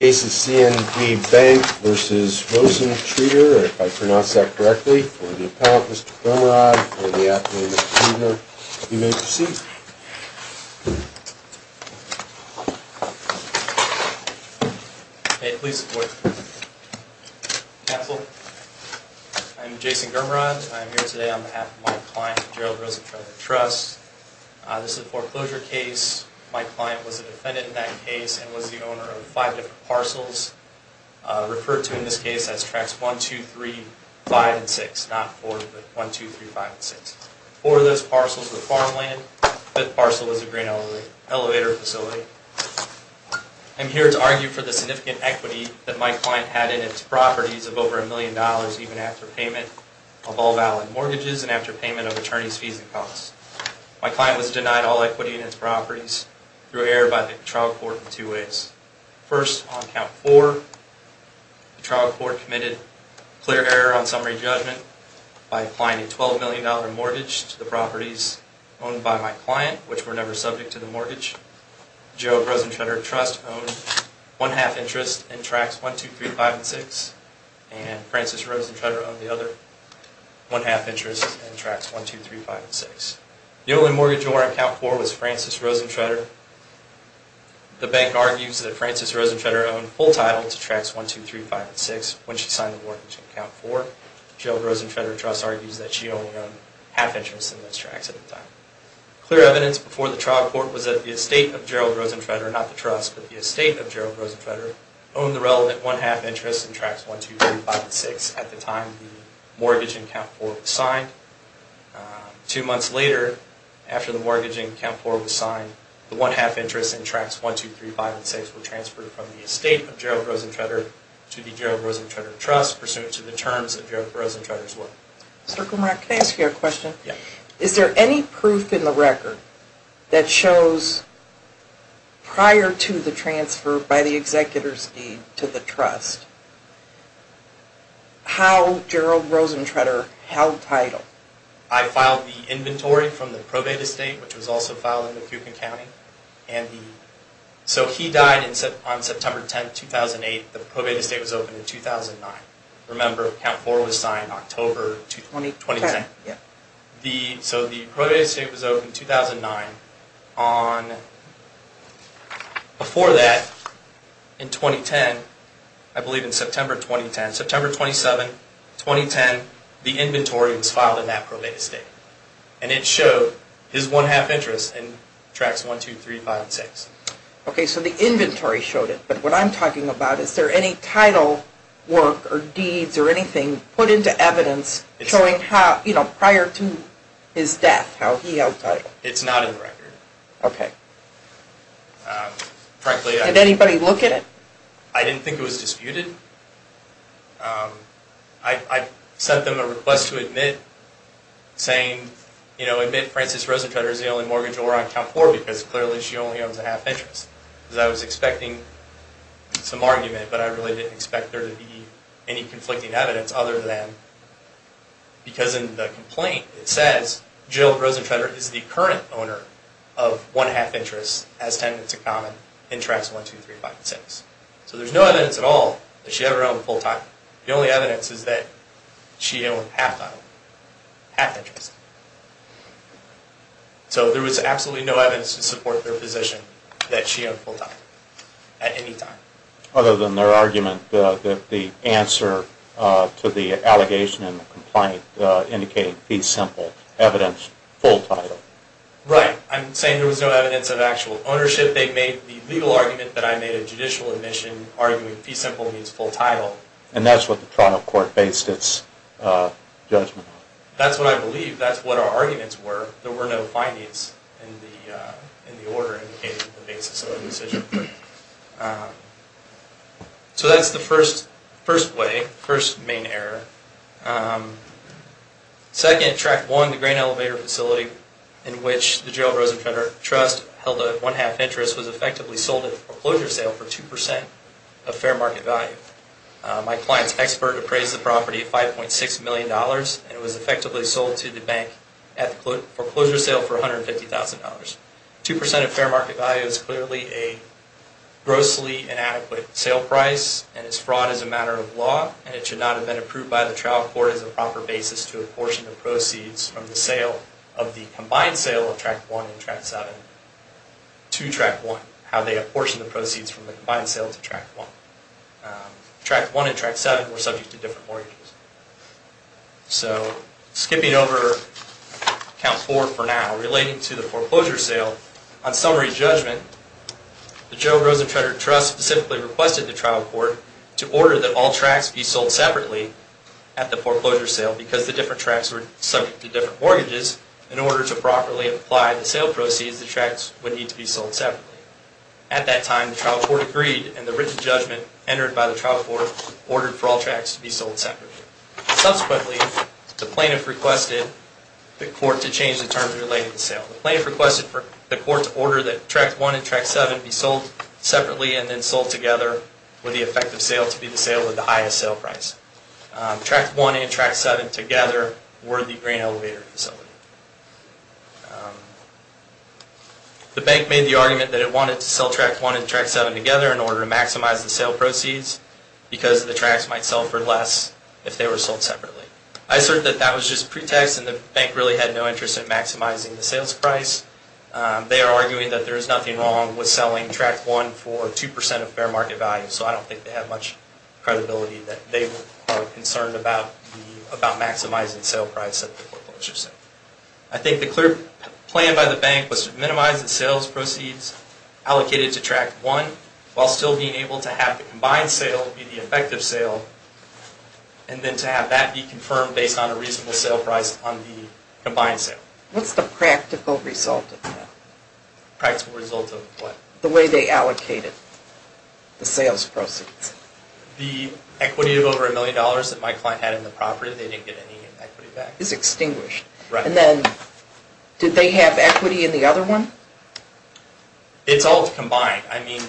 Case of C&B Bank v. Rosentreter, if I pronounce that correctly, for the appellant, Mr. Gurmaraj, for the affidavit of treator. You may proceed. May it please the court. Counsel, I'm Jason Gurmaraj. I'm here today on behalf of my client, Gerald Rosentreter Trust. This is a foreclosure case. My client was a defendant in that case and was the owner of five different parcels, referred to in this case as Tracts 1, 2, 3, 5, and 6, not 4, but 1, 2, 3, 5, and 6. Four of those parcels were farmland. The fifth parcel was a green elevator facility. I'm here to argue for the significant equity that my client had in its properties of over a million dollars even after payment of all valid mortgages and after payment of attorney's fees and costs. My client was denied all equity in its properties through error by the trial court in two ways. First, on count four, the trial court committed clear error on summary judgment by applying a $12 million mortgage to the properties owned by my client, which were never subject to the mortgage. Gerald Rosentreter Trust owned one-half interest in Tracts 1, 2, 3, 5, and 6, and Francis Rosentreter owned the other one-half interest in Tracts 1, 2, 3, 5, and 6. The only mortgage owner on count four was Francis Rosentreter. The bank argues that Francis Rosentreter owned full title to Tracts 1, 2, 3, 5, and 6 when she signed the mortgage on count four. Gerald Rosentreter Trust argues that she only owned half interest in those tracts at the time. Clear evidence before the trial court was that the estate of Gerald Rosentreter, not the trust, but the estate of Gerald Rosentreter, owned the relevant one-half interest in Tracts 1, 2, 3, 5, and 6 at the time the mortgage on count four was signed. Two months later, after the mortgage on count four was signed, the one-half interest in Tracts 1, 2, 3, 5, and 6 were transferred from the estate of Gerald Rosentreter to the Gerald Rosentreter Trust pursuant to the terms of Gerald Rosentreter's work. Can I ask you a question? Is there any proof in the record that shows prior to the transfer by the executor's deed to the trust how Gerald Rosentreter held title? I filed the inventory from the probate estate, which was also filed in MacEuchan County. So he died on September 10, 2008. The probate estate was opened in 2009. Remember, count four was signed October 2010. So the probate estate was opened in 2009. Before that, in 2010, I believe in September 2010, September 27, 2010, the inventory was filed in that probate estate. And it showed his one-half interest in Tracts 1, 2, 3, 5, and 6. Okay, so the inventory showed it. But what I'm talking about, is there any title work or deeds or anything put into evidence showing how, you know, prior to his death, how he held title? It's not in the record. Okay. Frankly, I... Did anybody look at it? I didn't think it was disputed. I sent them a request to admit, saying, you know, admit Frances Rosentreter is the only mortgage owner on count four because clearly she only owns a half interest. Because I was expecting some argument, but I really didn't expect there to be any conflicting evidence other than because in the complaint, it says Jill Rosentreter is the current owner of one-half interest, has tenants in common, in Tracts 1, 2, 3, 5, and 6. So there's no evidence at all that she ever owned a full title. The only evidence is that she owned half title, half interest. So there was absolutely no evidence to support their position that she owned full title at any time. Other than their argument that the answer to the allegation in the complaint indicated fee simple, evidence full title. Right. I'm saying there was no evidence of actual ownership. They made the legal argument that I made a judicial admission arguing fee simple means full title. And that's what the trial court based its judgment on. That's what I believe. That's what our arguments were. There were no findings in the order indicating the basis of the decision. So that's the first way, first main error. Second, Tract 1, the grain elevator facility in which the Jill Rosentreter Trust held a one-half interest was effectively sold at a foreclosure sale for 2% of fair market value. My client's expert appraised the property at $5.6 million and it was effectively sold to the bank at the foreclosure sale for $150,000. 2% of fair market value is clearly a grossly inadequate sale price and is fraud as a matter of law. And it should not have been approved by the trial court as a proper basis to apportion the proceeds from the sale of the combined sale of Tract 1 and Tract 7 to Tract 1. How they apportioned the proceeds from the combined sale to Tract 1. Tract 1 and Tract 7 were subject to different mortgages. So skipping over account 4 for now, relating to the foreclosure sale, on summary judgment, the Jill Rosentreter Trust specifically requested the trial court to order that all tracts be sold separately at the foreclosure sale because the different tracts were subject to different mortgages. In order to properly apply the sale proceeds, the tracts would need to be sold separately. At that time, the trial court agreed and the written judgment entered by the trial court ordered for all tracts to be sold separately. Subsequently, the plaintiff requested the court to change the terms related to the sale. The plaintiff requested for the court to order that Tract 1 and Tract 7 be sold separately and then sold together with the effective sale to be the sale with the highest sale price. Tract 1 and Tract 7 together were the grain elevator facility. The bank made the argument that it wanted to sell Tract 1 and Tract 7 together in order to maximize the sale proceeds because the tracts might sell for less if they were sold separately. I assert that that was just pretext and the bank really had no interest in maximizing the sales price. They are arguing that there is nothing wrong with selling Tract 1 for 2% of fair market value, so I don't think they have much credibility that they are concerned about maximizing the sale price of the foreclosure sale. I think the clear plan by the bank was to minimize the sales proceeds allocated to Tract 1 while still being able to have the combined sale be the effective sale and then to have that be confirmed based on a reasonable sale price on the combined sale. What's the practical result of that? Practical result of what? The way they allocated the sales proceeds. The equity of over a million dollars that my client had in the property, they didn't get any equity back. It's extinguished. Right. And then did they have equity in the other one? It's all combined. I mean,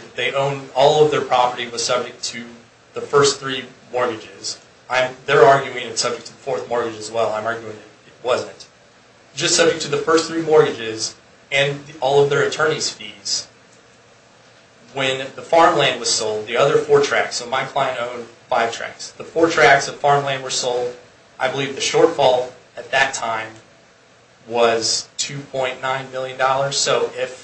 all of their property was subject to the first three mortgages. They're arguing it's subject to the fourth mortgage as well. I'm arguing it wasn't. Just subject to the first three mortgages and all of their attorney's fees. When the farmland was sold, the other four tracts, so my client owned five tracts. The four tracts of farmland were sold, I believe the shortfall at that time was $2.9 million. So if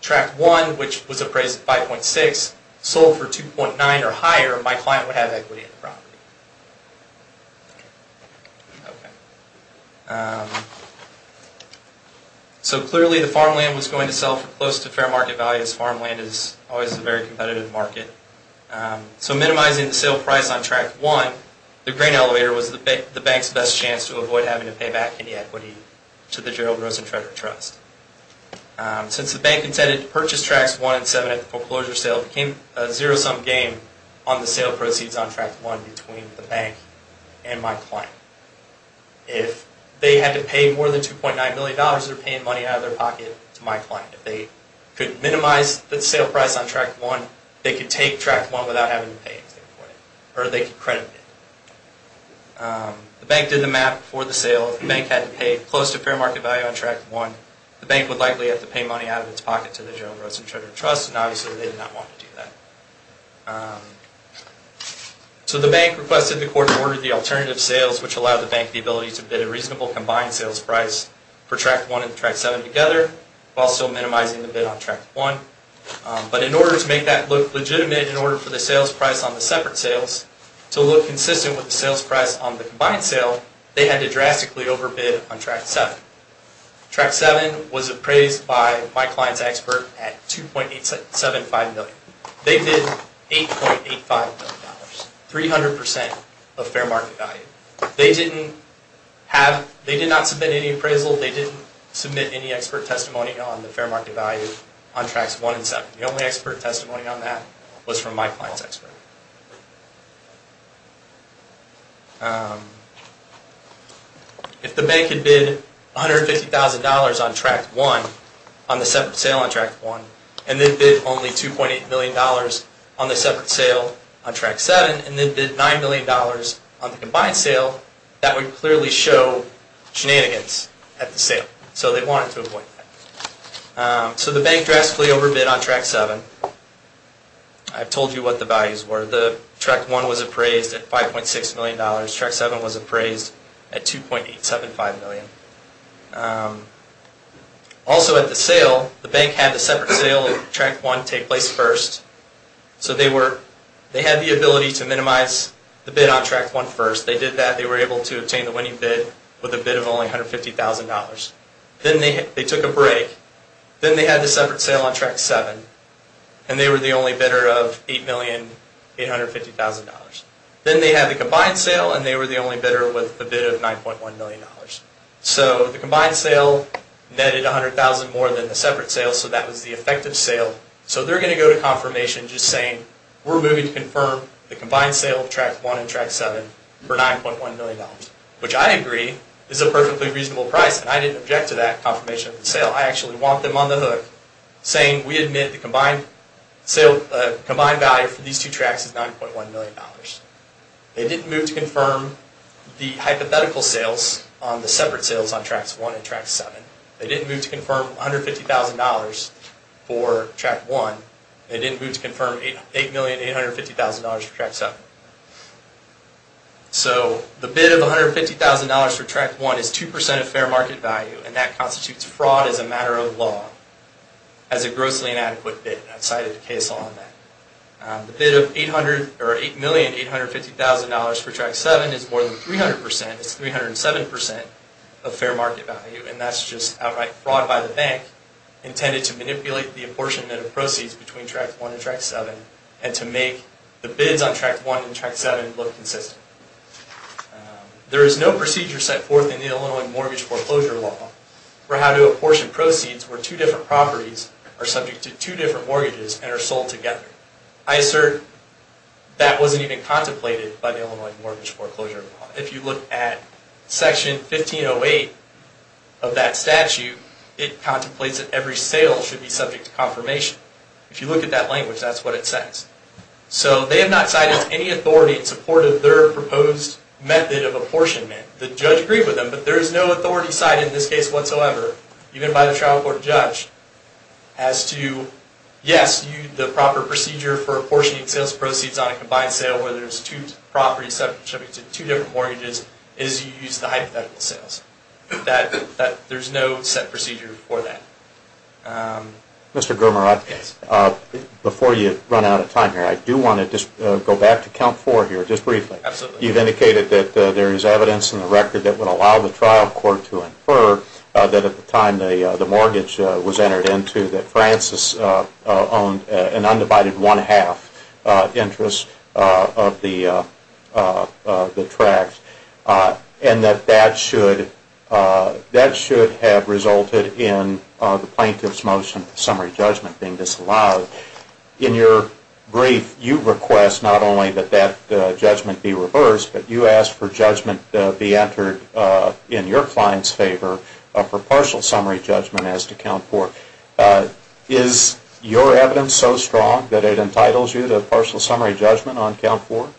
Tract 1, which was appraised at 5.6, sold for 2.9 or higher, my client would have equity in the property. Okay. So clearly the farmland was going to sell for close to fair market value as farmland is always a very competitive market. So minimizing the sale price on Tract 1, the grain elevator was the bank's best chance to avoid having to pay back any equity to the Gerald Rosen Tractor Trust. Since the bank intended to purchase Tracts 1 and 7 at the foreclosure sale, it became a zero-sum game on the sale proceeds on Tract 1 between the bank and my client. If they had to pay more than $2.9 million, they're paying money out of their pocket to my client. If they could minimize the sale price on Tract 1, they could take Tract 1 without having to pay anything for it. Or they could credit it. The bank did the math for the sale. If the bank had to pay close to fair market value on Tract 1, the bank would likely have to pay money out of its pocket to the Gerald Rosen Tractor Trust, and obviously they did not want to do that. So the bank requested the court to order the alternative sales, which allowed the bank the ability to bid a reasonable combined sales price for Tract 1 and Tract 7 together, while still minimizing the bid on Tract 1. But in order to make that look legitimate in order for the sales price on the separate sales to look consistent with the sales price on the combined sale, they had to drastically overbid on Tract 7. Tract 7 was appraised by my client's expert at $2.875 million. They bid $8.85 million, 300% of fair market value. They did not submit any appraisal. They didn't submit any expert testimony on the fair market value on Tracts 1 and 7. The only expert testimony on that was from my client's expert. If the bank had bid $150,000 on the separate sale on Tract 1, and then bid only $2.8 million on the separate sale on Tract 7, and then bid $9 million on the combined sale, that would clearly show shenanigans at the sale. So they wanted to avoid that. So the bank drastically overbid on Tract 7. I've told you what the values were. Tract 1 was appraised at $5.6 million. Tract 7 was appraised at $2.875 million. Also at the sale, the bank had the separate sale of Tract 1 take place first. So they had the ability to minimize the bid on Tract 1 first. They did that. They were able to obtain the winning bid with a bid of only $150,000. Then they took a break. Then they had the separate sale on Tract 7, and they were the only bidder of $8,850,000. Then they had the combined sale, and they were the only bidder with a bid of $9.1 million. So the combined sale netted $100,000 more than the separate sale, so that was the effective sale. So they're going to go to confirmation just saying, we're moving to confirm the combined sale of Tract 1 and Tract 7 for $9.1 million, which I agree is a perfectly reasonable price, and I didn't object to that confirmation of the sale. I actually want them on the hook saying, we admit the combined value for these two Tracts is $9.1 million. They didn't move to confirm the hypothetical sales on the separate sales on Tract 1 and Tract 7. They didn't move to confirm $150,000 for Tract 1. They didn't move to confirm $8,850,000 for Tract 7. So the bid of $150,000 for Tract 1 is 2% of fair market value, and that constitutes fraud as a matter of law, as a grossly inadequate bid. I've cited a case law on that. The bid of $8,850,000 for Tract 7 is more than 300%. It's 307% of fair market value, and that's just outright fraud by the bank intended to manipulate the apportionment of proceeds between Tract 1 and Tract 7 and to make the bids on Tract 1 and Tract 7 look consistent. There is no procedure set forth in the Illinois Mortgage Foreclosure Law for how to apportion proceeds where two different properties are subject to two different mortgages and are sold together. I assert that wasn't even contemplated by the Illinois Mortgage Foreclosure Law. If you look at Section 1508 of that statute, it contemplates that every sale should be subject to confirmation. If you look at that language, that's what it says. So they have not cited any authority in support of their proposed method of apportionment. The judge agreed with them, but there is no authority cited in this case whatsoever, even by the trial court judge, as to, yes, the proper procedure for apportioning sales proceeds on a combined sale where there's two properties subject to two different mortgages is you use the hypothetical sales. There's no set procedure for that. Mr. Gurmarath, before you run out of time here, I do want to just go back to Count 4 here just briefly. Absolutely. You've indicated that there is evidence in the record that would allow the trial court to infer that at the time the mortgage was entered into that Francis owned an undivided one-half interest of the tract and that that should have resulted in the plaintiff's motion for summary judgment being disallowed. In your brief, you request not only that that judgment be reversed, but you ask for judgment to be entered in your client's favor for partial summary judgment as to Count 4. Is your evidence so strong that it entitles you to partial summary judgment on Count 4?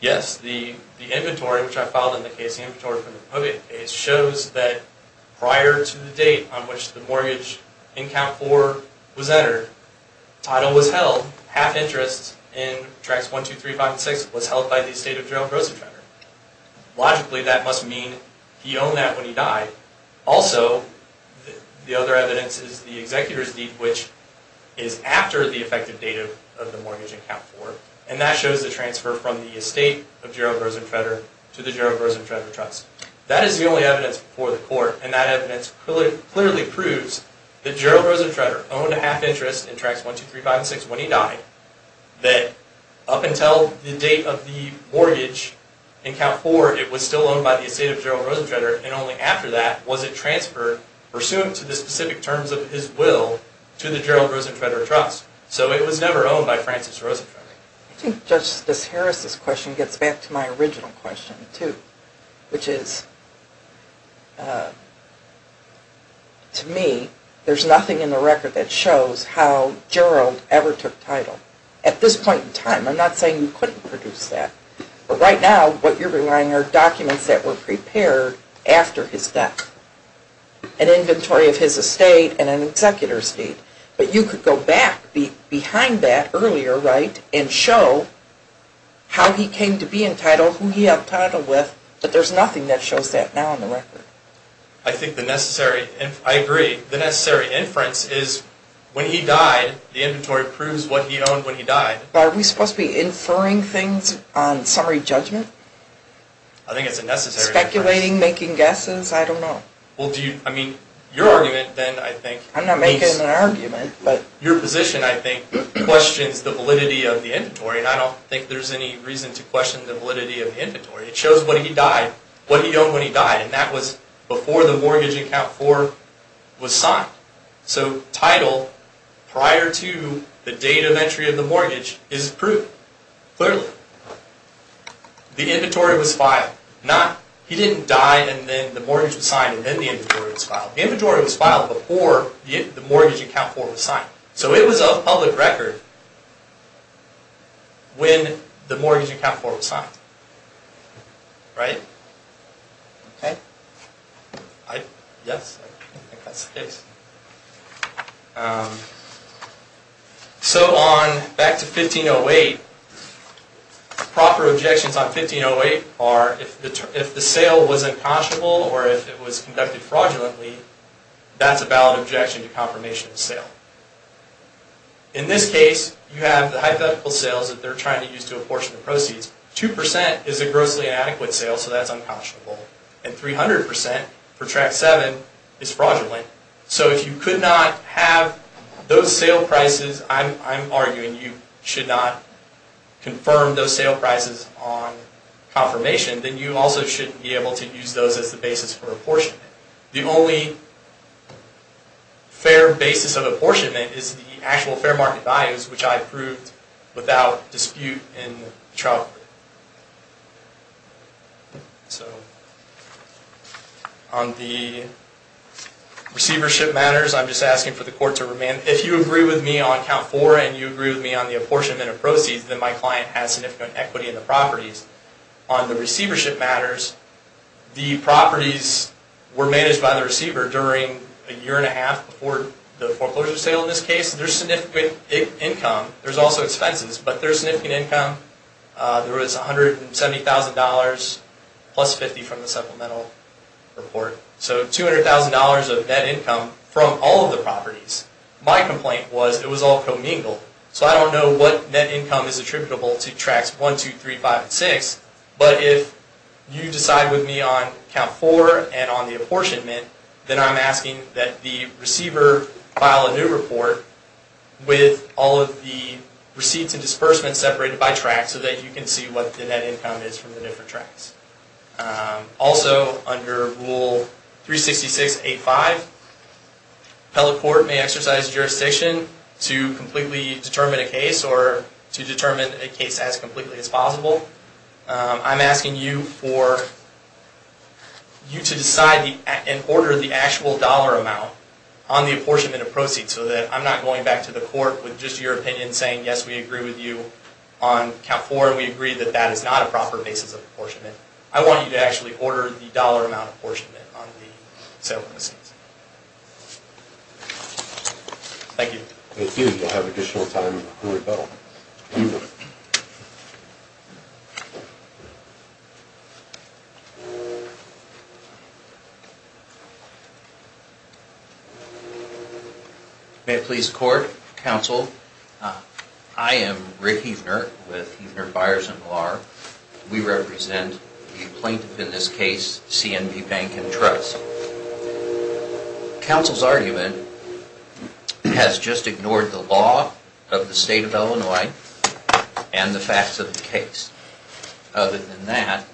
Yes. The inventory, which I filed in the case, the inventory from the Hovian case, shows that prior to the date on which the mortgage in Count 4 was entered, title was held, half interest in Tracts 1, 2, 3, 5, and 6 was held by the estate of Gerald Rosenfender. Logically, that must mean he owned that when he died. Also, the other evidence is the executor's deed, which is after the effective date of the mortgage in Count 4, and that shows the transfer from the estate of Gerald Rosenfender to the Gerald Rosenfender Trust. That is the only evidence before the court, and that evidence clearly proves that Gerald Rosenfender owned a half interest in Tracts 1, 2, 3, 5, and 6 when he died, that up until the date of the mortgage in Count 4, it was still owned by the estate of Gerald Rosenfender, and only after that was it transferred, pursuant to the specific terms of his will, to the Gerald Rosenfender Trust. So it was never owned by Francis Rosenfender. I think Justice Harris' question gets back to my original question, too, which is, to me, there's nothing in the record that shows how Gerald ever took title. At this point in time, I'm not saying you couldn't produce that, but right now, what you're relying on are documents that were prepared after his death, an inventory of his estate and an executor's deed, but you could go back behind that earlier and show how he came to be entitled, who he held title with, but there's nothing that shows that now in the record. I agree. The necessary inference is, when he died, the inventory proves what he owned when he died. Are we supposed to be inferring things on summary judgment? I think it's a necessary inference. Speculating, making guesses? I don't know. Your argument, then, I think... I'm not making an argument, but... Your position, I think, questions the validity of the inventory, and I don't think there's any reason to question the validity of the inventory. It shows what he died, what he owned when he died, and that was before the mortgage in Act 4 was signed. So title, prior to the date of entry of the mortgage, is proven, clearly. The inventory was filed. He didn't die, and then the mortgage was signed, and then the inventory was filed. The inventory was filed before the mortgage in Act 4 was signed. So it was of public record when the mortgage in Act 4 was signed. So, back to 1508, proper objections on 1508 are, if the sale was unconscionable, or if it was conducted fraudulently, that's a valid objection to confirmation of sale. In this case, you have the hypothetical sales that they're trying to use to apportion the proceeds. 2% is a grossly inadequate sale, so that's unconscionable. And 300%, for Track 7, is fraudulent. So if you could not have those sale prices, I'm arguing you should not confirm those sale prices on confirmation, then you also shouldn't be able to use those as the basis for apportionment. The only fair basis of apportionment is the actual fair market values, which I proved without dispute in trial. On the receivership matters, I'm just asking for the Court to remand. If you agree with me on Count 4, and you agree with me on the apportionment of proceeds, then my client has significant equity in the properties. On the receivership matters, the properties were managed by the receiver during a year and a half before the foreclosure sale. In this case, there's significant income. There's also expenses, but there's significant income. There was $170,000 plus $50,000 from the supplemental report. So $200,000 of net income from all of the properties. My complaint was it was all commingled. So I don't know what net income is attributable to Tracks 1, 2, 3, 5, and 6, but if you decide with me on Count 4 and on the apportionment, then I'm asking that the receiver file a new report with all of the receipts and disbursements separated by track so that you can see what the net income is from the different tracks. Also, under Rule 366.85, appellate court may exercise jurisdiction to completely determine a case or to determine a case as completely as possible. I'm asking you to decide and order the actual dollar amount on the apportionment of proceeds so that I'm not going back to the court with just your opinion saying, yes, we agree with you on Count 4. We agree that that is not a proper basis of apportionment. I want you to actually order the dollar amount apportionment on the settlement receipts. Thank you. Thank you. We'll have additional time on the bill. Thank you. May it please the court. Counsel, I am Rick Hefner with Hefner, Byers & Blar. We represent the plaintiff in this case, C.N.P. Bank & Trust. Counsel's argument has just ignored the law of the state of Illinois and the facts of the case. Other than that,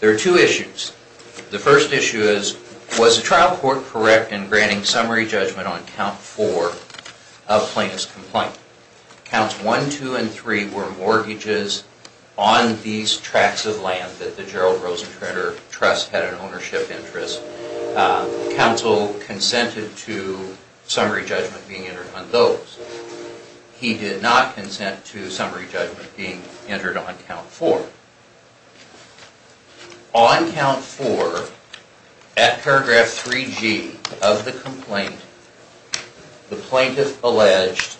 there are two issues. The first issue is, was the trial court correct in granting summary judgment on Count 4 of plaintiff's complaint? Counts 1, 2, and 3 were mortgages on these tracks of land that the Gerald Rosencranter Trust had an ownership interest. Counsel consented to summary judgment being entered on those. He did not consent to summary judgment being entered on Count 4. On Count 4, at paragraph 3G of the complaint, the plaintiff alleged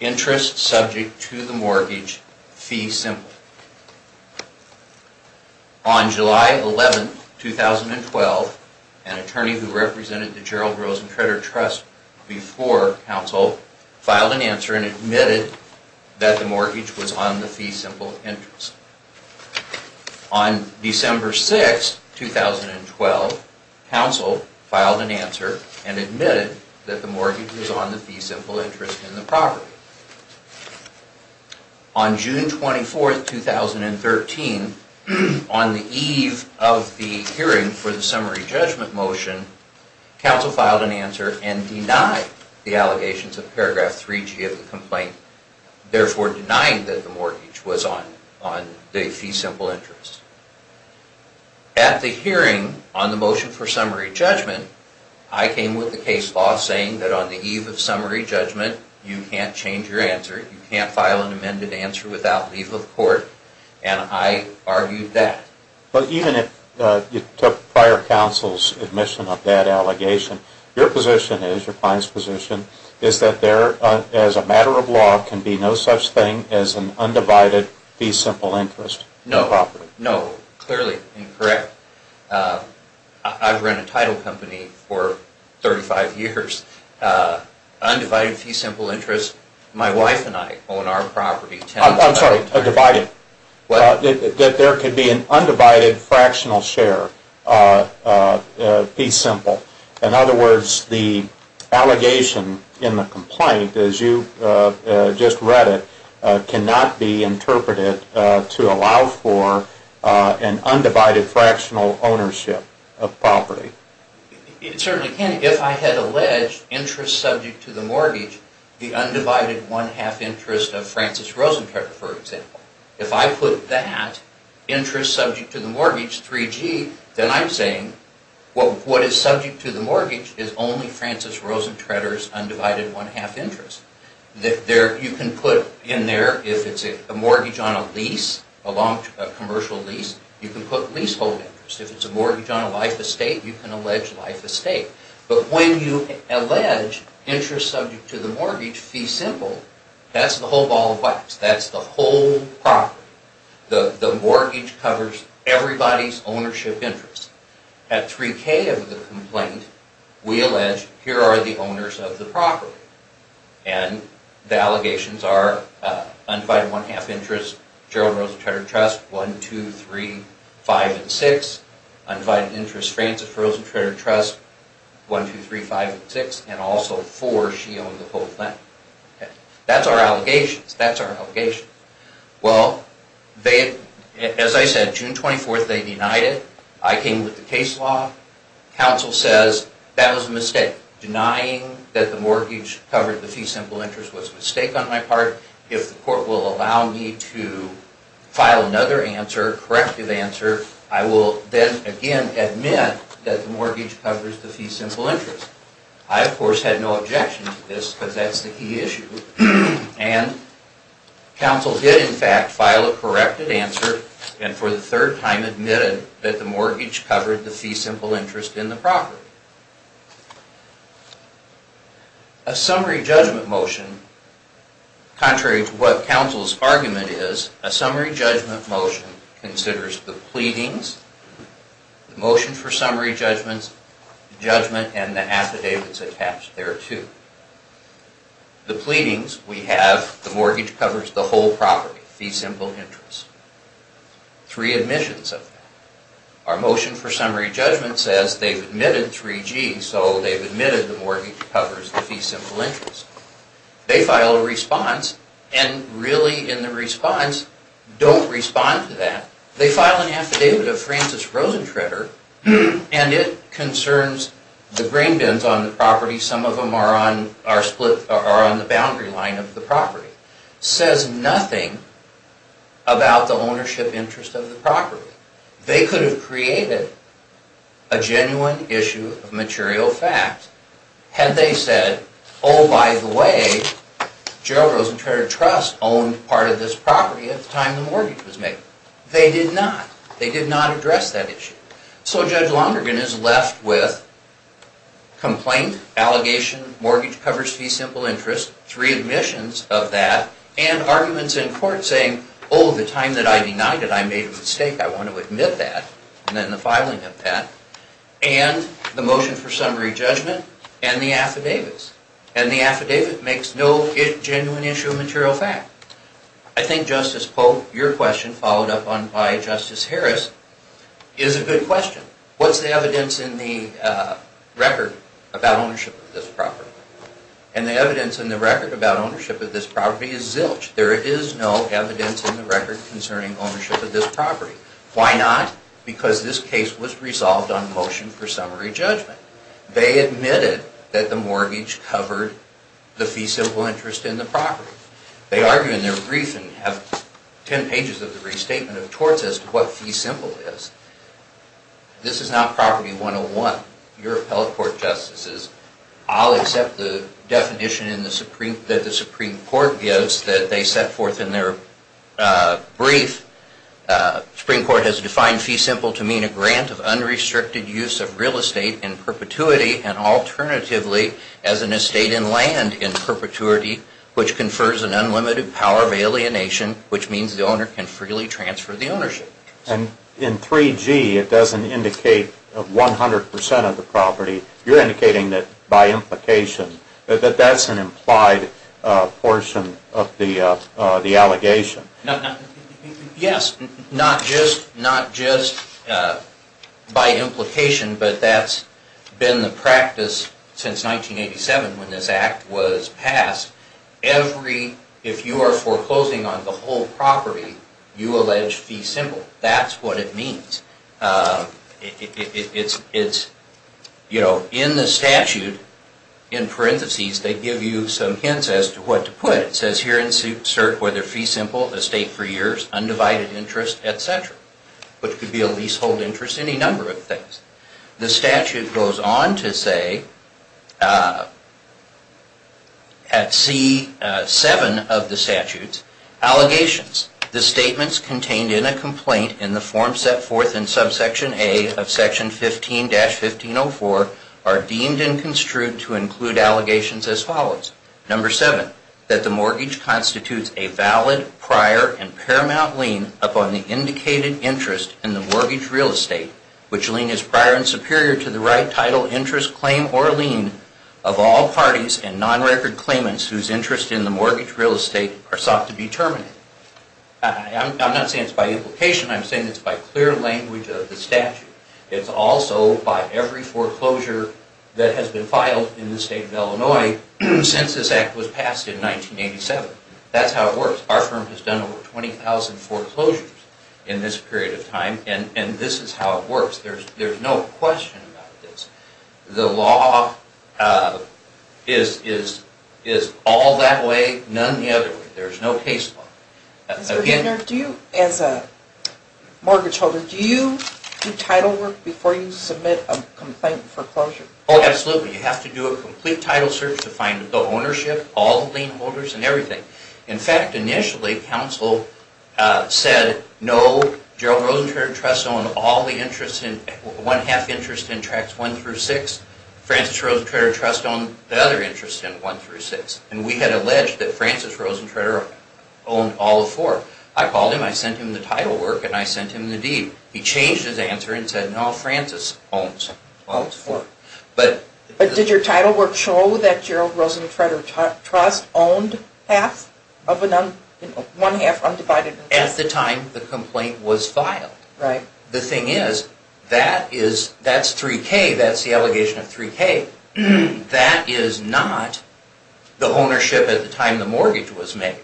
interest subject to the mortgage fee simple. On July 11, 2012, an attorney who represented the Gerald Rosencranter Trust before counsel filed an answer and admitted that the mortgage was on the fee simple interest. On December 6, 2012, counsel filed an answer and admitted that the mortgage was on the fee simple interest in the property. On June 24, 2013, on the eve of the hearing for the summary judgment motion, counsel filed an answer and denied the allegations of paragraph 3G of the complaint, therefore denying that the mortgage was on the fee simple interest. At the hearing on the motion for summary judgment, I came with the case law saying that on the eve of summary judgment, you can't change your answer, you can't file an amended answer without leave of court, and I argued that. But even if you took prior counsel's admission of that allegation, your position is, your client's position, is that there, as a matter of law, can be no such thing as an undivided fee simple interest. No, no, clearly incorrect. I've run a title company for 35 years. Undivided fee simple interest, my wife and I own our property. I'm sorry, divided. That there could be an undivided fractional share fee simple. In other words, the allegation in the complaint, as you just read it, cannot be interpreted to allow for an undivided fractional ownership of property. It certainly can. If I had alleged interest subject to the mortgage, the undivided one-half interest of Francis Rosentretter, for example, if I put that interest subject to the mortgage, 3G, then I'm saying what is subject to the mortgage is only Francis Rosentretter's undivided one-half interest. You can put in there, if it's a mortgage on a lease, a commercial lease, you can put leasehold interest. If it's a mortgage on a life estate, you can allege life estate. But when you allege interest subject to the mortgage fee simple, that's the whole ball of wax. That's the whole property. The mortgage covers everybody's ownership interest. At 3K of the complaint, we allege here are the owners of the property. And the allegations are undivided one-half interest, Gerald Rosentretter Trust, 1, 2, 3, 5, and 6. Undivided interest, Francis Rosentretter Trust, 1, 2, 3, 5, and 6. And also, 4, she owned the whole thing. That's our allegations. That's our allegations. Well, as I said, June 24th, they denied it. I came with the case law. Counsel says that was a mistake. Denying that the mortgage covered the fee simple interest was a mistake on my part. If the court will allow me to file another answer, corrective answer, I will then again admit that the mortgage covers the fee simple interest. I, of course, had no objection to this because that's the key issue. And counsel did, in fact, file a corrected answer and for the third time admitted that the mortgage covered the fee simple interest in the property. A summary judgment motion, contrary to what counsel's argument is, a summary judgment motion considers the pleadings, the motion for summary judgment, the judgment and the affidavits attached thereto. The pleadings, we have the mortgage covers the whole property, fee simple interest. Three admissions of that. Our motion for summary judgment says they've admitted 3G, so they've admitted the mortgage covers the fee simple interest. They file a response and really in the response, don't respond to that. They file an affidavit of Francis Rosentritter and it concerns the grain bins on the property. Some of them are on the boundary line of the property. Says nothing about the ownership interest of the property. They could have created a genuine issue of material fact had they said, oh, by the way, Gerald Rosentritter Trust owned part of this property at the time the mortgage was made. They did not. They did not address that issue. So Judge Lonergan is left with complaint, allegation, mortgage covers fee simple interest, three admissions of that, and arguments in court saying, oh, the time that I denied it, I made a mistake. I want to admit that. And then the filing of that. And the motion for summary judgment and the affidavits. And the affidavit makes no genuine issue of material fact. I think Justice Polk, your question, followed up on by Justice Harris, is a good question. What's the evidence in the record about ownership of this property? And the evidence in the record about ownership of this property is zilch. There is no evidence in the record concerning ownership of this property. Why not? Because this case was resolved on motion for summary judgment. They admitted that the mortgage covered the fee simple interest in the property. They argue in their brief and have ten pages of the restatement of torts as to what fee simple is. This is not property 101. Your appellate court, Justices, I'll accept the definition that the Supreme Court gives that they set forth in their brief. The Supreme Court has defined fee simple to mean a grant of unrestricted use of real estate in perpetuity and alternatively as an estate in land in perpetuity which confers an unlimited power of alienation which means the owner can freely transfer the ownership. And in 3G, it doesn't indicate 100% of the property. You're indicating that by implication, that that's an implied portion of the allegation. Yes, not just by implication, but that's been the practice since 1987 when this act was passed. If you are foreclosing on the whole property, you allege fee simple. That's what it means. In the statute, in parentheses, they give you some hints as to what to put. It says here in CERC whether fee simple, estate for years, undivided interest, etc. Which could be a leasehold interest, any number of things. The statute goes on to say, at C7 of the statute, allegations, the statements contained in a complaint in the form set forth in subsection A of section 15-1504 are deemed and construed to include allegations as follows. Number seven, that the mortgage constitutes a valid, prior, and paramount lien upon the indicated interest in the mortgage real estate, which lien is prior and superior to the right title, interest, claim, or lien of all parties and non-record claimants whose interest in the mortgage real estate are sought to be terminated. I'm not saying it's by implication, I'm saying it's by clear language of the statute. It's also by every foreclosure that has been filed in the state of Illinois since this act was passed in 1987. That's how it works. Our firm has done over 20,000 foreclosures in this period of time and this is how it works. There's no question about this. The law is all that way, none the other way. There's no case law. As a mortgage holder, do you do title work before you submit a complaint foreclosure? Oh, absolutely. You have to do a complete title search to find the ownership, all the lien holders, and everything. In fact, initially, counsel said, no, Gerald Rosentreter trusts on all the interests, one half interest in tracts one through six, Francis Rosentreter trusts on the other interest in one through six. And we had alleged that Francis Rosentreter owned all four. I called him, I sent him the title work, and I sent him the deed. He changed his answer and said, no, Francis owns all four. But did your title work show that Gerald Rosentreter Trust owned half, one half undivided interest? At the time the complaint was filed. The thing is, that's 3K, that's the allegation of 3K. That is not the ownership at the time the mortgage was made.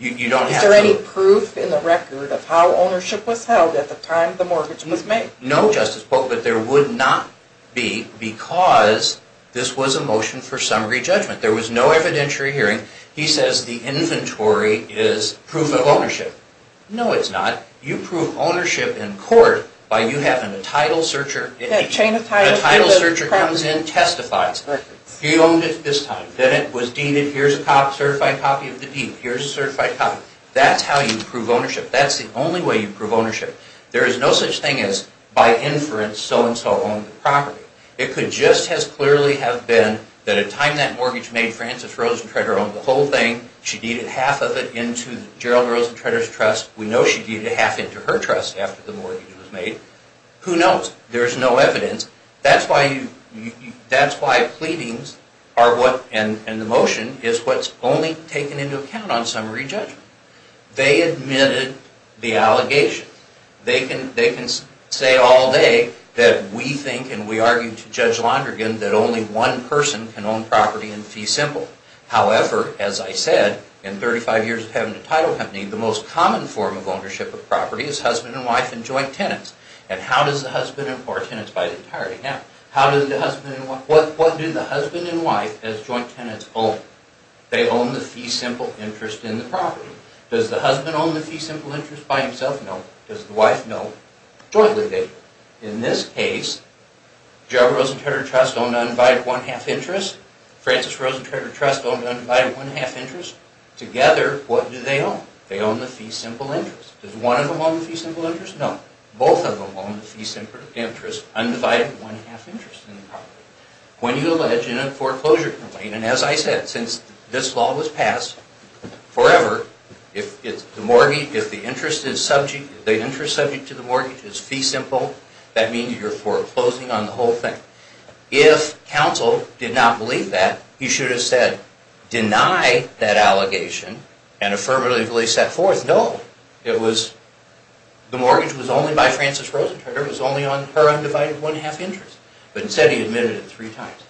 Is there any proof in the record of how ownership was held at the time the mortgage was made? No, Justice Polk, but there would not be, because this was a motion for summary judgment. There was no evidentiary hearing. He says the inventory is proof of ownership. No, it's not. You prove ownership in court by you having a title searcher. That chain of titles. The title searcher comes in, testifies. He owned it this time. Then it was deeded. Here's a certified copy of the deed. Here's a certified copy. That's how you prove ownership. That's the only way you prove ownership. There is no such thing as, by inference, so-and-so owned the property. It could just as clearly have been that at the time that mortgage was made, Frances Rosentretter owned the whole thing. She deeded half of it into Gerald Rosentretter's trust. We know she deeded half into her trust after the mortgage was made. Who knows? There's no evidence. That's why pleadings and the motion is what's only taken into account on summary judgment. They admitted the allegations. They can say all day that we think and we argue to Judge Londrigan that only one person can own property in fee simple. However, as I said, in 35 years of having a title company, the most common form of ownership of property is husband and wife and joint tenants. And how does the husband and wife, or tenants by entirety, what do the husband and wife as joint tenants own? They own the fee simple interest in the property. Does the husband own the fee simple interest by himself? No. Does the wife? No. In this case, Gerald Rosentretter's trust owned undivided one-half interest. Frances Rosentretter's trust owned undivided one-half interest. Together, what do they own? They own the fee simple interest. Does one of them own the fee simple interest? No. Both of them own the fee simple interest, undivided one-half interest in the property. When you allege in a foreclosure complaint, and as I said, since this law was passed, forever, if the interest subject to the mortgage is fee simple, that means you're foreclosing on the whole thing. If counsel did not believe that, he should have said, deny that allegation and affirmatively set forth, no, it was, the mortgage was only by Frances Rosentretter, it was only on her undivided one-half interest. But instead he admitted it three times.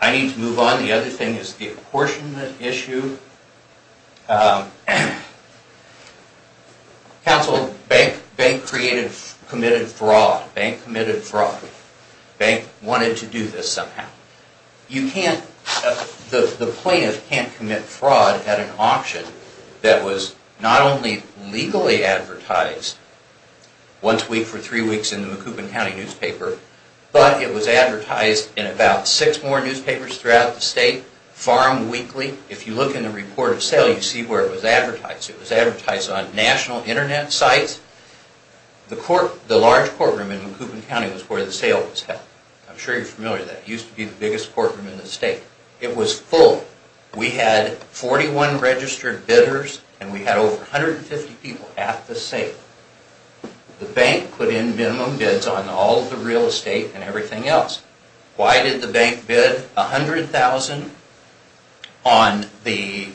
I need to move on. The other thing is the apportionment issue. Counsel, bank created, committed fraud. Bank committed fraud. Bank wanted to do this somehow. You can't, the plaintiff can't commit fraud at an auction that was not only legally advertised once a week for three weeks in the Macoubin County newspaper, but it was advertised in about six more newspapers throughout the state, farm weekly. If you look in the report of sale, you see where it was advertised. It was advertised on national internet sites. The large courtroom in Macoubin County was where the sale was held. I'm sure you're familiar with that. It used to be the biggest courtroom in the state. It was full. We had 41 registered bidders and we had over 150 people at the sale. The bank put in minimum bids on all the real estate and everything else. Why did the bank bid $100,000 on the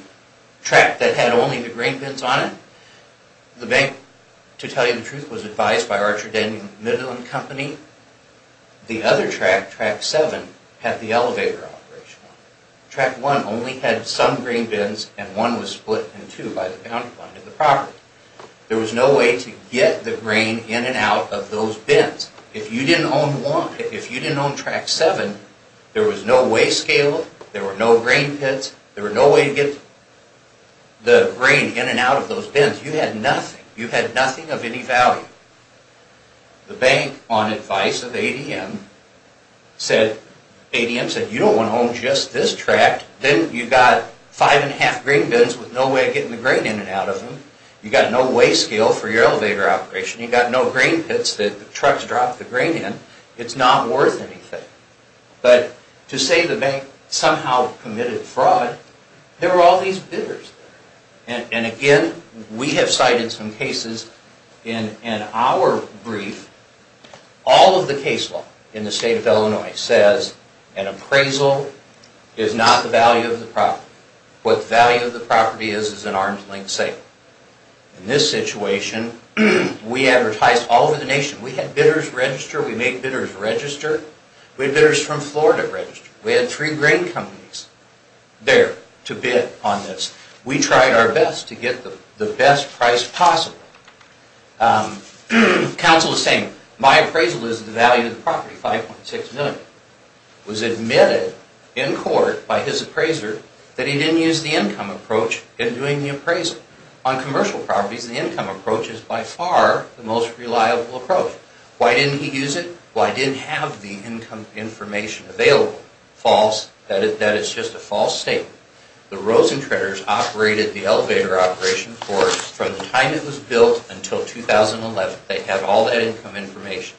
track that had only the grain bins on it? The bank, to tell you the truth, was advised by Archer Daniel Midland Company. The other track, track seven, had the elevator operation on it. Track one only had some grain bins and one was split in two by the county line to the property. There was no way to get the grain in and out of those bins. If you didn't own track seven, there was no way to scale it. There were no grain pits. There was no way to get the grain in and out of those bins. You had nothing. You had nothing of any value. The bank, on advice of ADM, said, ADM said, you don't want to own just this track. Then you've got five and a half grain bins with no way of getting the grain in and out of them. You've got no way scale for your elevator operation. You've got no grain pits. The trucks drop the grain in. It's not worth anything. But, to say the bank somehow committed fraud, there were all these bidders. And again, we have cited some cases in our brief. All of the case law in the state of Illinois says an appraisal is not the value of the property. What the value of the property is, is an arm's length sale. In this situation, we advertised all over the nation. We had bidders register. We made bidders register. We had bidders from Florida register. We had three grain companies there to bid on this. We tried our best to get the best price possible. Counsel is saying, my appraisal is the value of the property, 5.6 million. It was admitted in court by his appraiser that he didn't use the income approach in doing the appraisal. On commercial properties, the income approach is by far the most reliable approach. Why didn't he use it? Well, I didn't have the income information available. False. That is just a false statement. The Rosentraders operated the elevator operation for us from the time it was built until 2011. They had all that income information.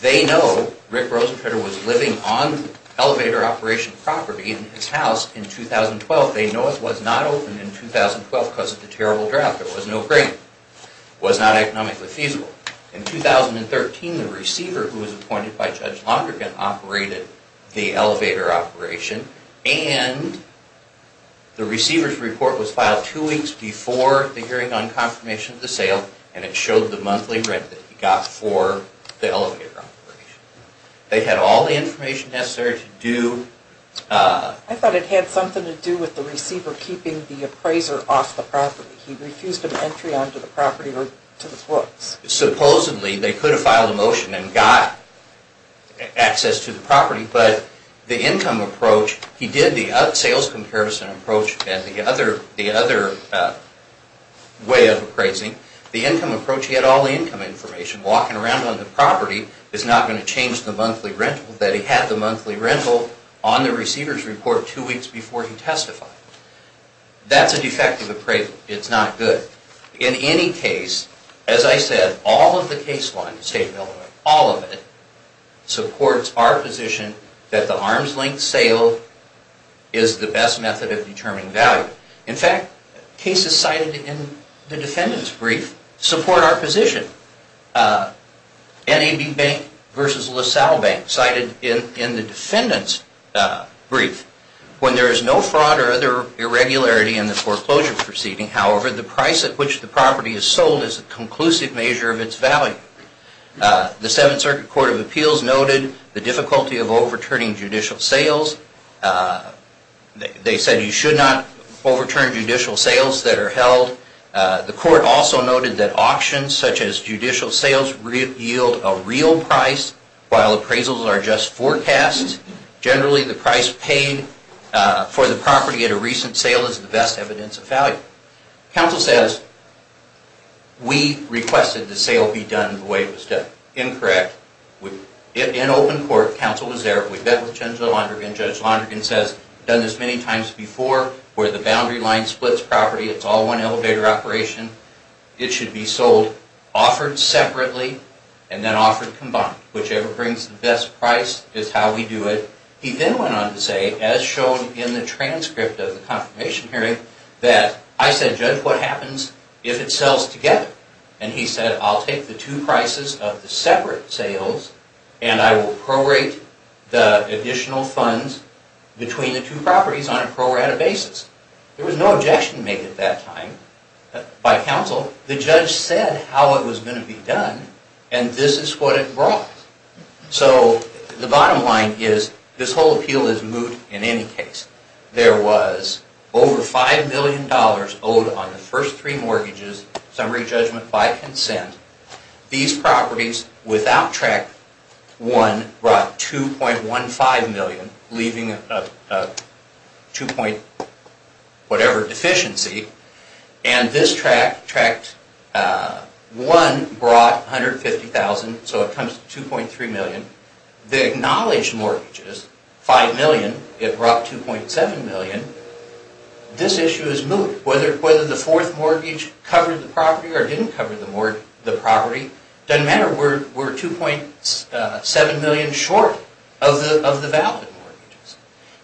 They know Rick Rosentrader was living on elevator operation property in his house in 2012. They know it was not open in 2012 because of the terrible drought. There was no grain. It was not economically feasible. In 2013, the receiver, who was appointed by Judge Lonergan, operated the elevator operation. The receiver's report was filed two weeks before the hearing on confirmation of the sale. It showed the monthly rent that he got for the elevator operation. They had all the information necessary to do... I thought it had something to do with the receiver keeping the appraiser off the property. He refused an entry onto the property or to the books. Supposedly, they could have filed a motion and got access to the property, but the income approach, he did the sales comparison approach and the other way of appraising. The income approach, he had all the income information. Walking around on the property is not going to change the monthly rental that he had the monthly rental on the receiver's report two weeks before he testified. That's a defective appraisal. It's not good. In any case, as I said, all of the case law in the state of Illinois, all of it, supports our position that the arm's length sale is the best method of determining value. In fact, cases cited in the defendant's brief support our position. NAB Bank versus LaSalle Bank cited in the defendant's brief. When there is no fraud or other irregularity in the foreclosure proceeding, however, the price at which the property is sold is a conclusive measure of its value. The Seventh Circuit Court of Appeals noted the difficulty of overturning judicial sales. They said you should not overturn judicial sales that are held. The court also noted that auctions such as judicial sales yield a real price while appraisals are just forecasts. Generally, the price paid for the property at a recent sale is the best evidence of value. Counsel says, we requested the sale be done the way it was done. Incorrect. In open court, counsel was there. We met with Judge Lonergan. Judge Lonergan says, done this many times before where the boundary line splits property. It's all one elevator operation. It should be sold offered separately and then offered combined, whichever brings the best price is how we do it. He then went on to say, as shown in the transcript of the confirmation hearing, that I said, Judge, what happens if it sells together? And he said, I'll take the two prices of the separate sales and I will prorate the additional funds between the two properties on a prorated basis. There was no objection made at that time by counsel. The judge said how it was going to be done and this is what it brought. So, the bottom line is this whole appeal is moot in any case. There was over $5 million owed on the first three mortgages. Summary judgment by consent. These properties, without Track 1, brought $2.15 million leaving a 2 point whatever deficiency and this Track 1 brought $150,000 so it comes to $2.3 million. The acknowledged mortgages, $5 million, it brought $2.7 million. This issue is moot. Whether the fourth mortgage covered the property or didn't cover the property doesn't matter. We're $2.7 million short of the valid mortgages.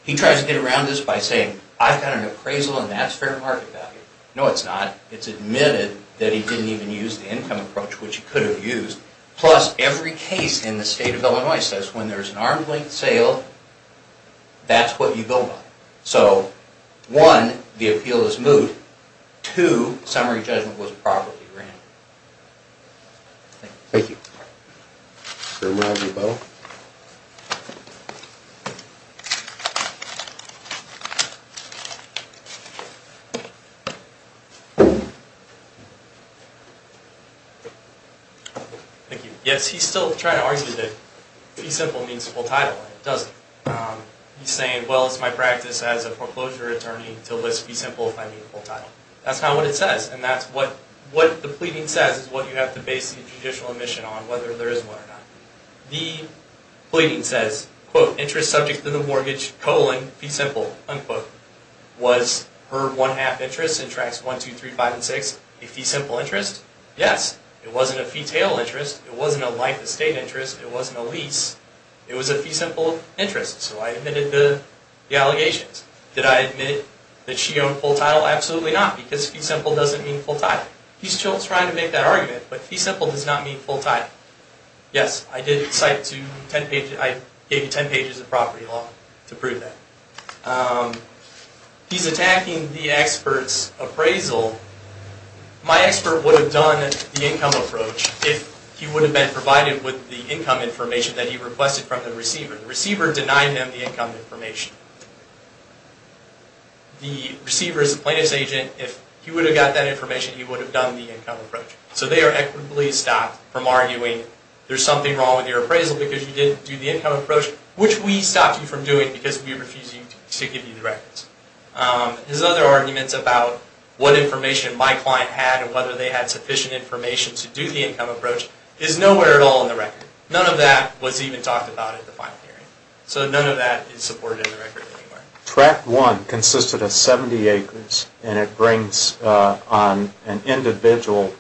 He tries to get around this by saying, I've got an appraisal and that's fair market value. No, it's not. It's admitted that he didn't even use the income approach which he could have used plus every case in the state of Illinois says when there's an arm's length sale that's what you build on. So, one, the appeal is moot. Two, summary judgment was a property grant. Thank you. Sir, would I have your bow? Thank you. Yes, he's still trying to argue that fee simple means full title and it doesn't. He's saying, well, it's my practice as a foreclosure attorney to list fee simple if I mean full title. That's not what it says and that's what the pleading says is what you have to base the judicial admission on whether there is one or not. The pleading says, quote, interest subject to the mortgage colon, fee simple, unquote. Was her one half interest in Tracts 1, 2, 3, 5, and 6 a fee simple interest? Yes. It wasn't a fee tail interest. It wasn't a life estate interest. It wasn't a lease. It was a fee simple interest. So, I admitted the allegations. Did I admit that she owned full title? Absolutely not because fee simple doesn't mean full title. He's still trying to make that argument, but fee simple does not mean full title. Yes, I did cite to 10 pages. I gave you 10 pages of property law to prove that. He's attacking the expert's appraisal. My expert would have done the income approach if he would have been provided with the income information that he requested from the receiver. The receiver denied them the income information. The receiver is a plaintiff's agent. If he would have got that information, he would have done the income approach. So, they are equitably stopped from arguing there's something wrong with your appraisal because you didn't do the income approach, which we stopped you from doing because we refused to give you the records. His other arguments about what information my client had and whether they had sufficient information to do the income approach is nowhere at all in the record. None of that was even talked about at the final hearing. So, none of that is supported in the record anywhere. Track 1 consisted of 70 acres and it brings on an individual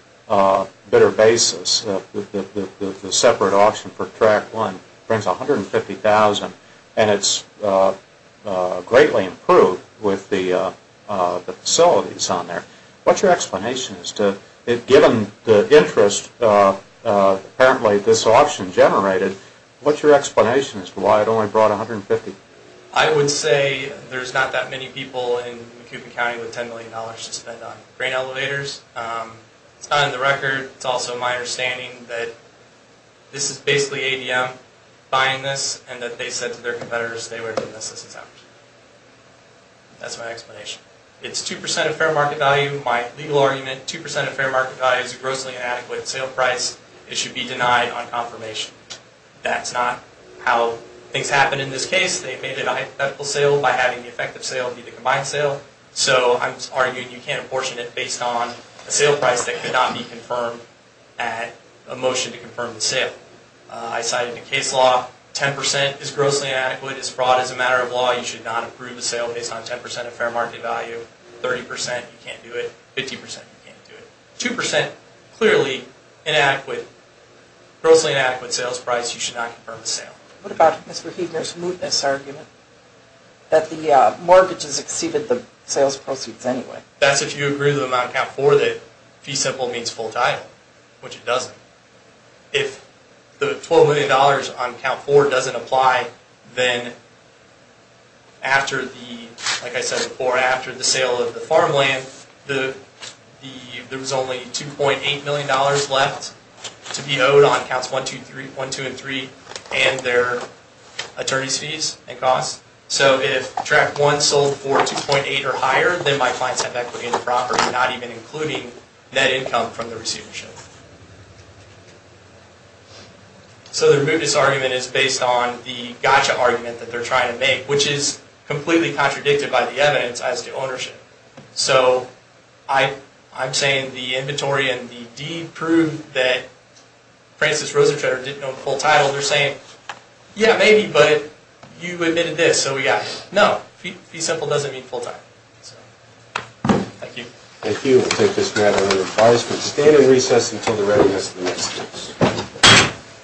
bidder basis. The separate option for Track 1 brings $150,000 and it's greatly improved with the facilities on there. What's your explanation as to, given the interest apparently this option generated, what's your explanation there's not that many people in Macomb County with $10 million to spend on a facility that only brought $150,000. I would say there's not that many people with $150,000 to spend on grain elevators. It's not in the record. It's also my understanding that this is basically ADM buying this and that they said to their competitors they would have done this as an option. That's my explanation. It's 2% of fair market value. My legal argument 2% of fair market value is a grossly inadequate sale price. It should be denied on confirmation. That's not how things happen in this case. They made a hypothetical sale by having the effective sale be the combined sale. So I'm arguing you can't apportion it based on a sale price that could not be confirmed at a motion to confirm the sale. I cited the case law. 10% is grossly inadequate. It's fraud. As a matter of law you should not approve the sale based on 10% of fair market value. 30% you can't do it. 50% you can't do it. 2% clearly grossly inadequate sales price. You should not confirm the sale. What about Mr. Huebner's mootness argument? That the mortgages exceeded the sales proceeds anyway. That's if you agree with him on count 4 that fee simple means full title which it doesn't. If the $12 million on count 4 doesn't apply then after the like I said before after the sale of the farmland the there was only $2.8 million left to be owed on counts 1, 2 and 3 and their attorney's fees and costs. So if track 1 sold for $2.8 or higher then my clients have equity in the property not even including net income from the receivership. So the mootness argument is based on the gotcha argument that they're trying to make which is completely contradicted by the evidence as to ownership. So I I'm saying the inventory and the deed prove that Francis Rosentretter didn't know the full title. They're saying yeah maybe but you admitted this so we got it. No. Fee simple doesn't mean full title. Thank you. Thank you. We'll take this matter under advisement. Stand in recess until the readiness of the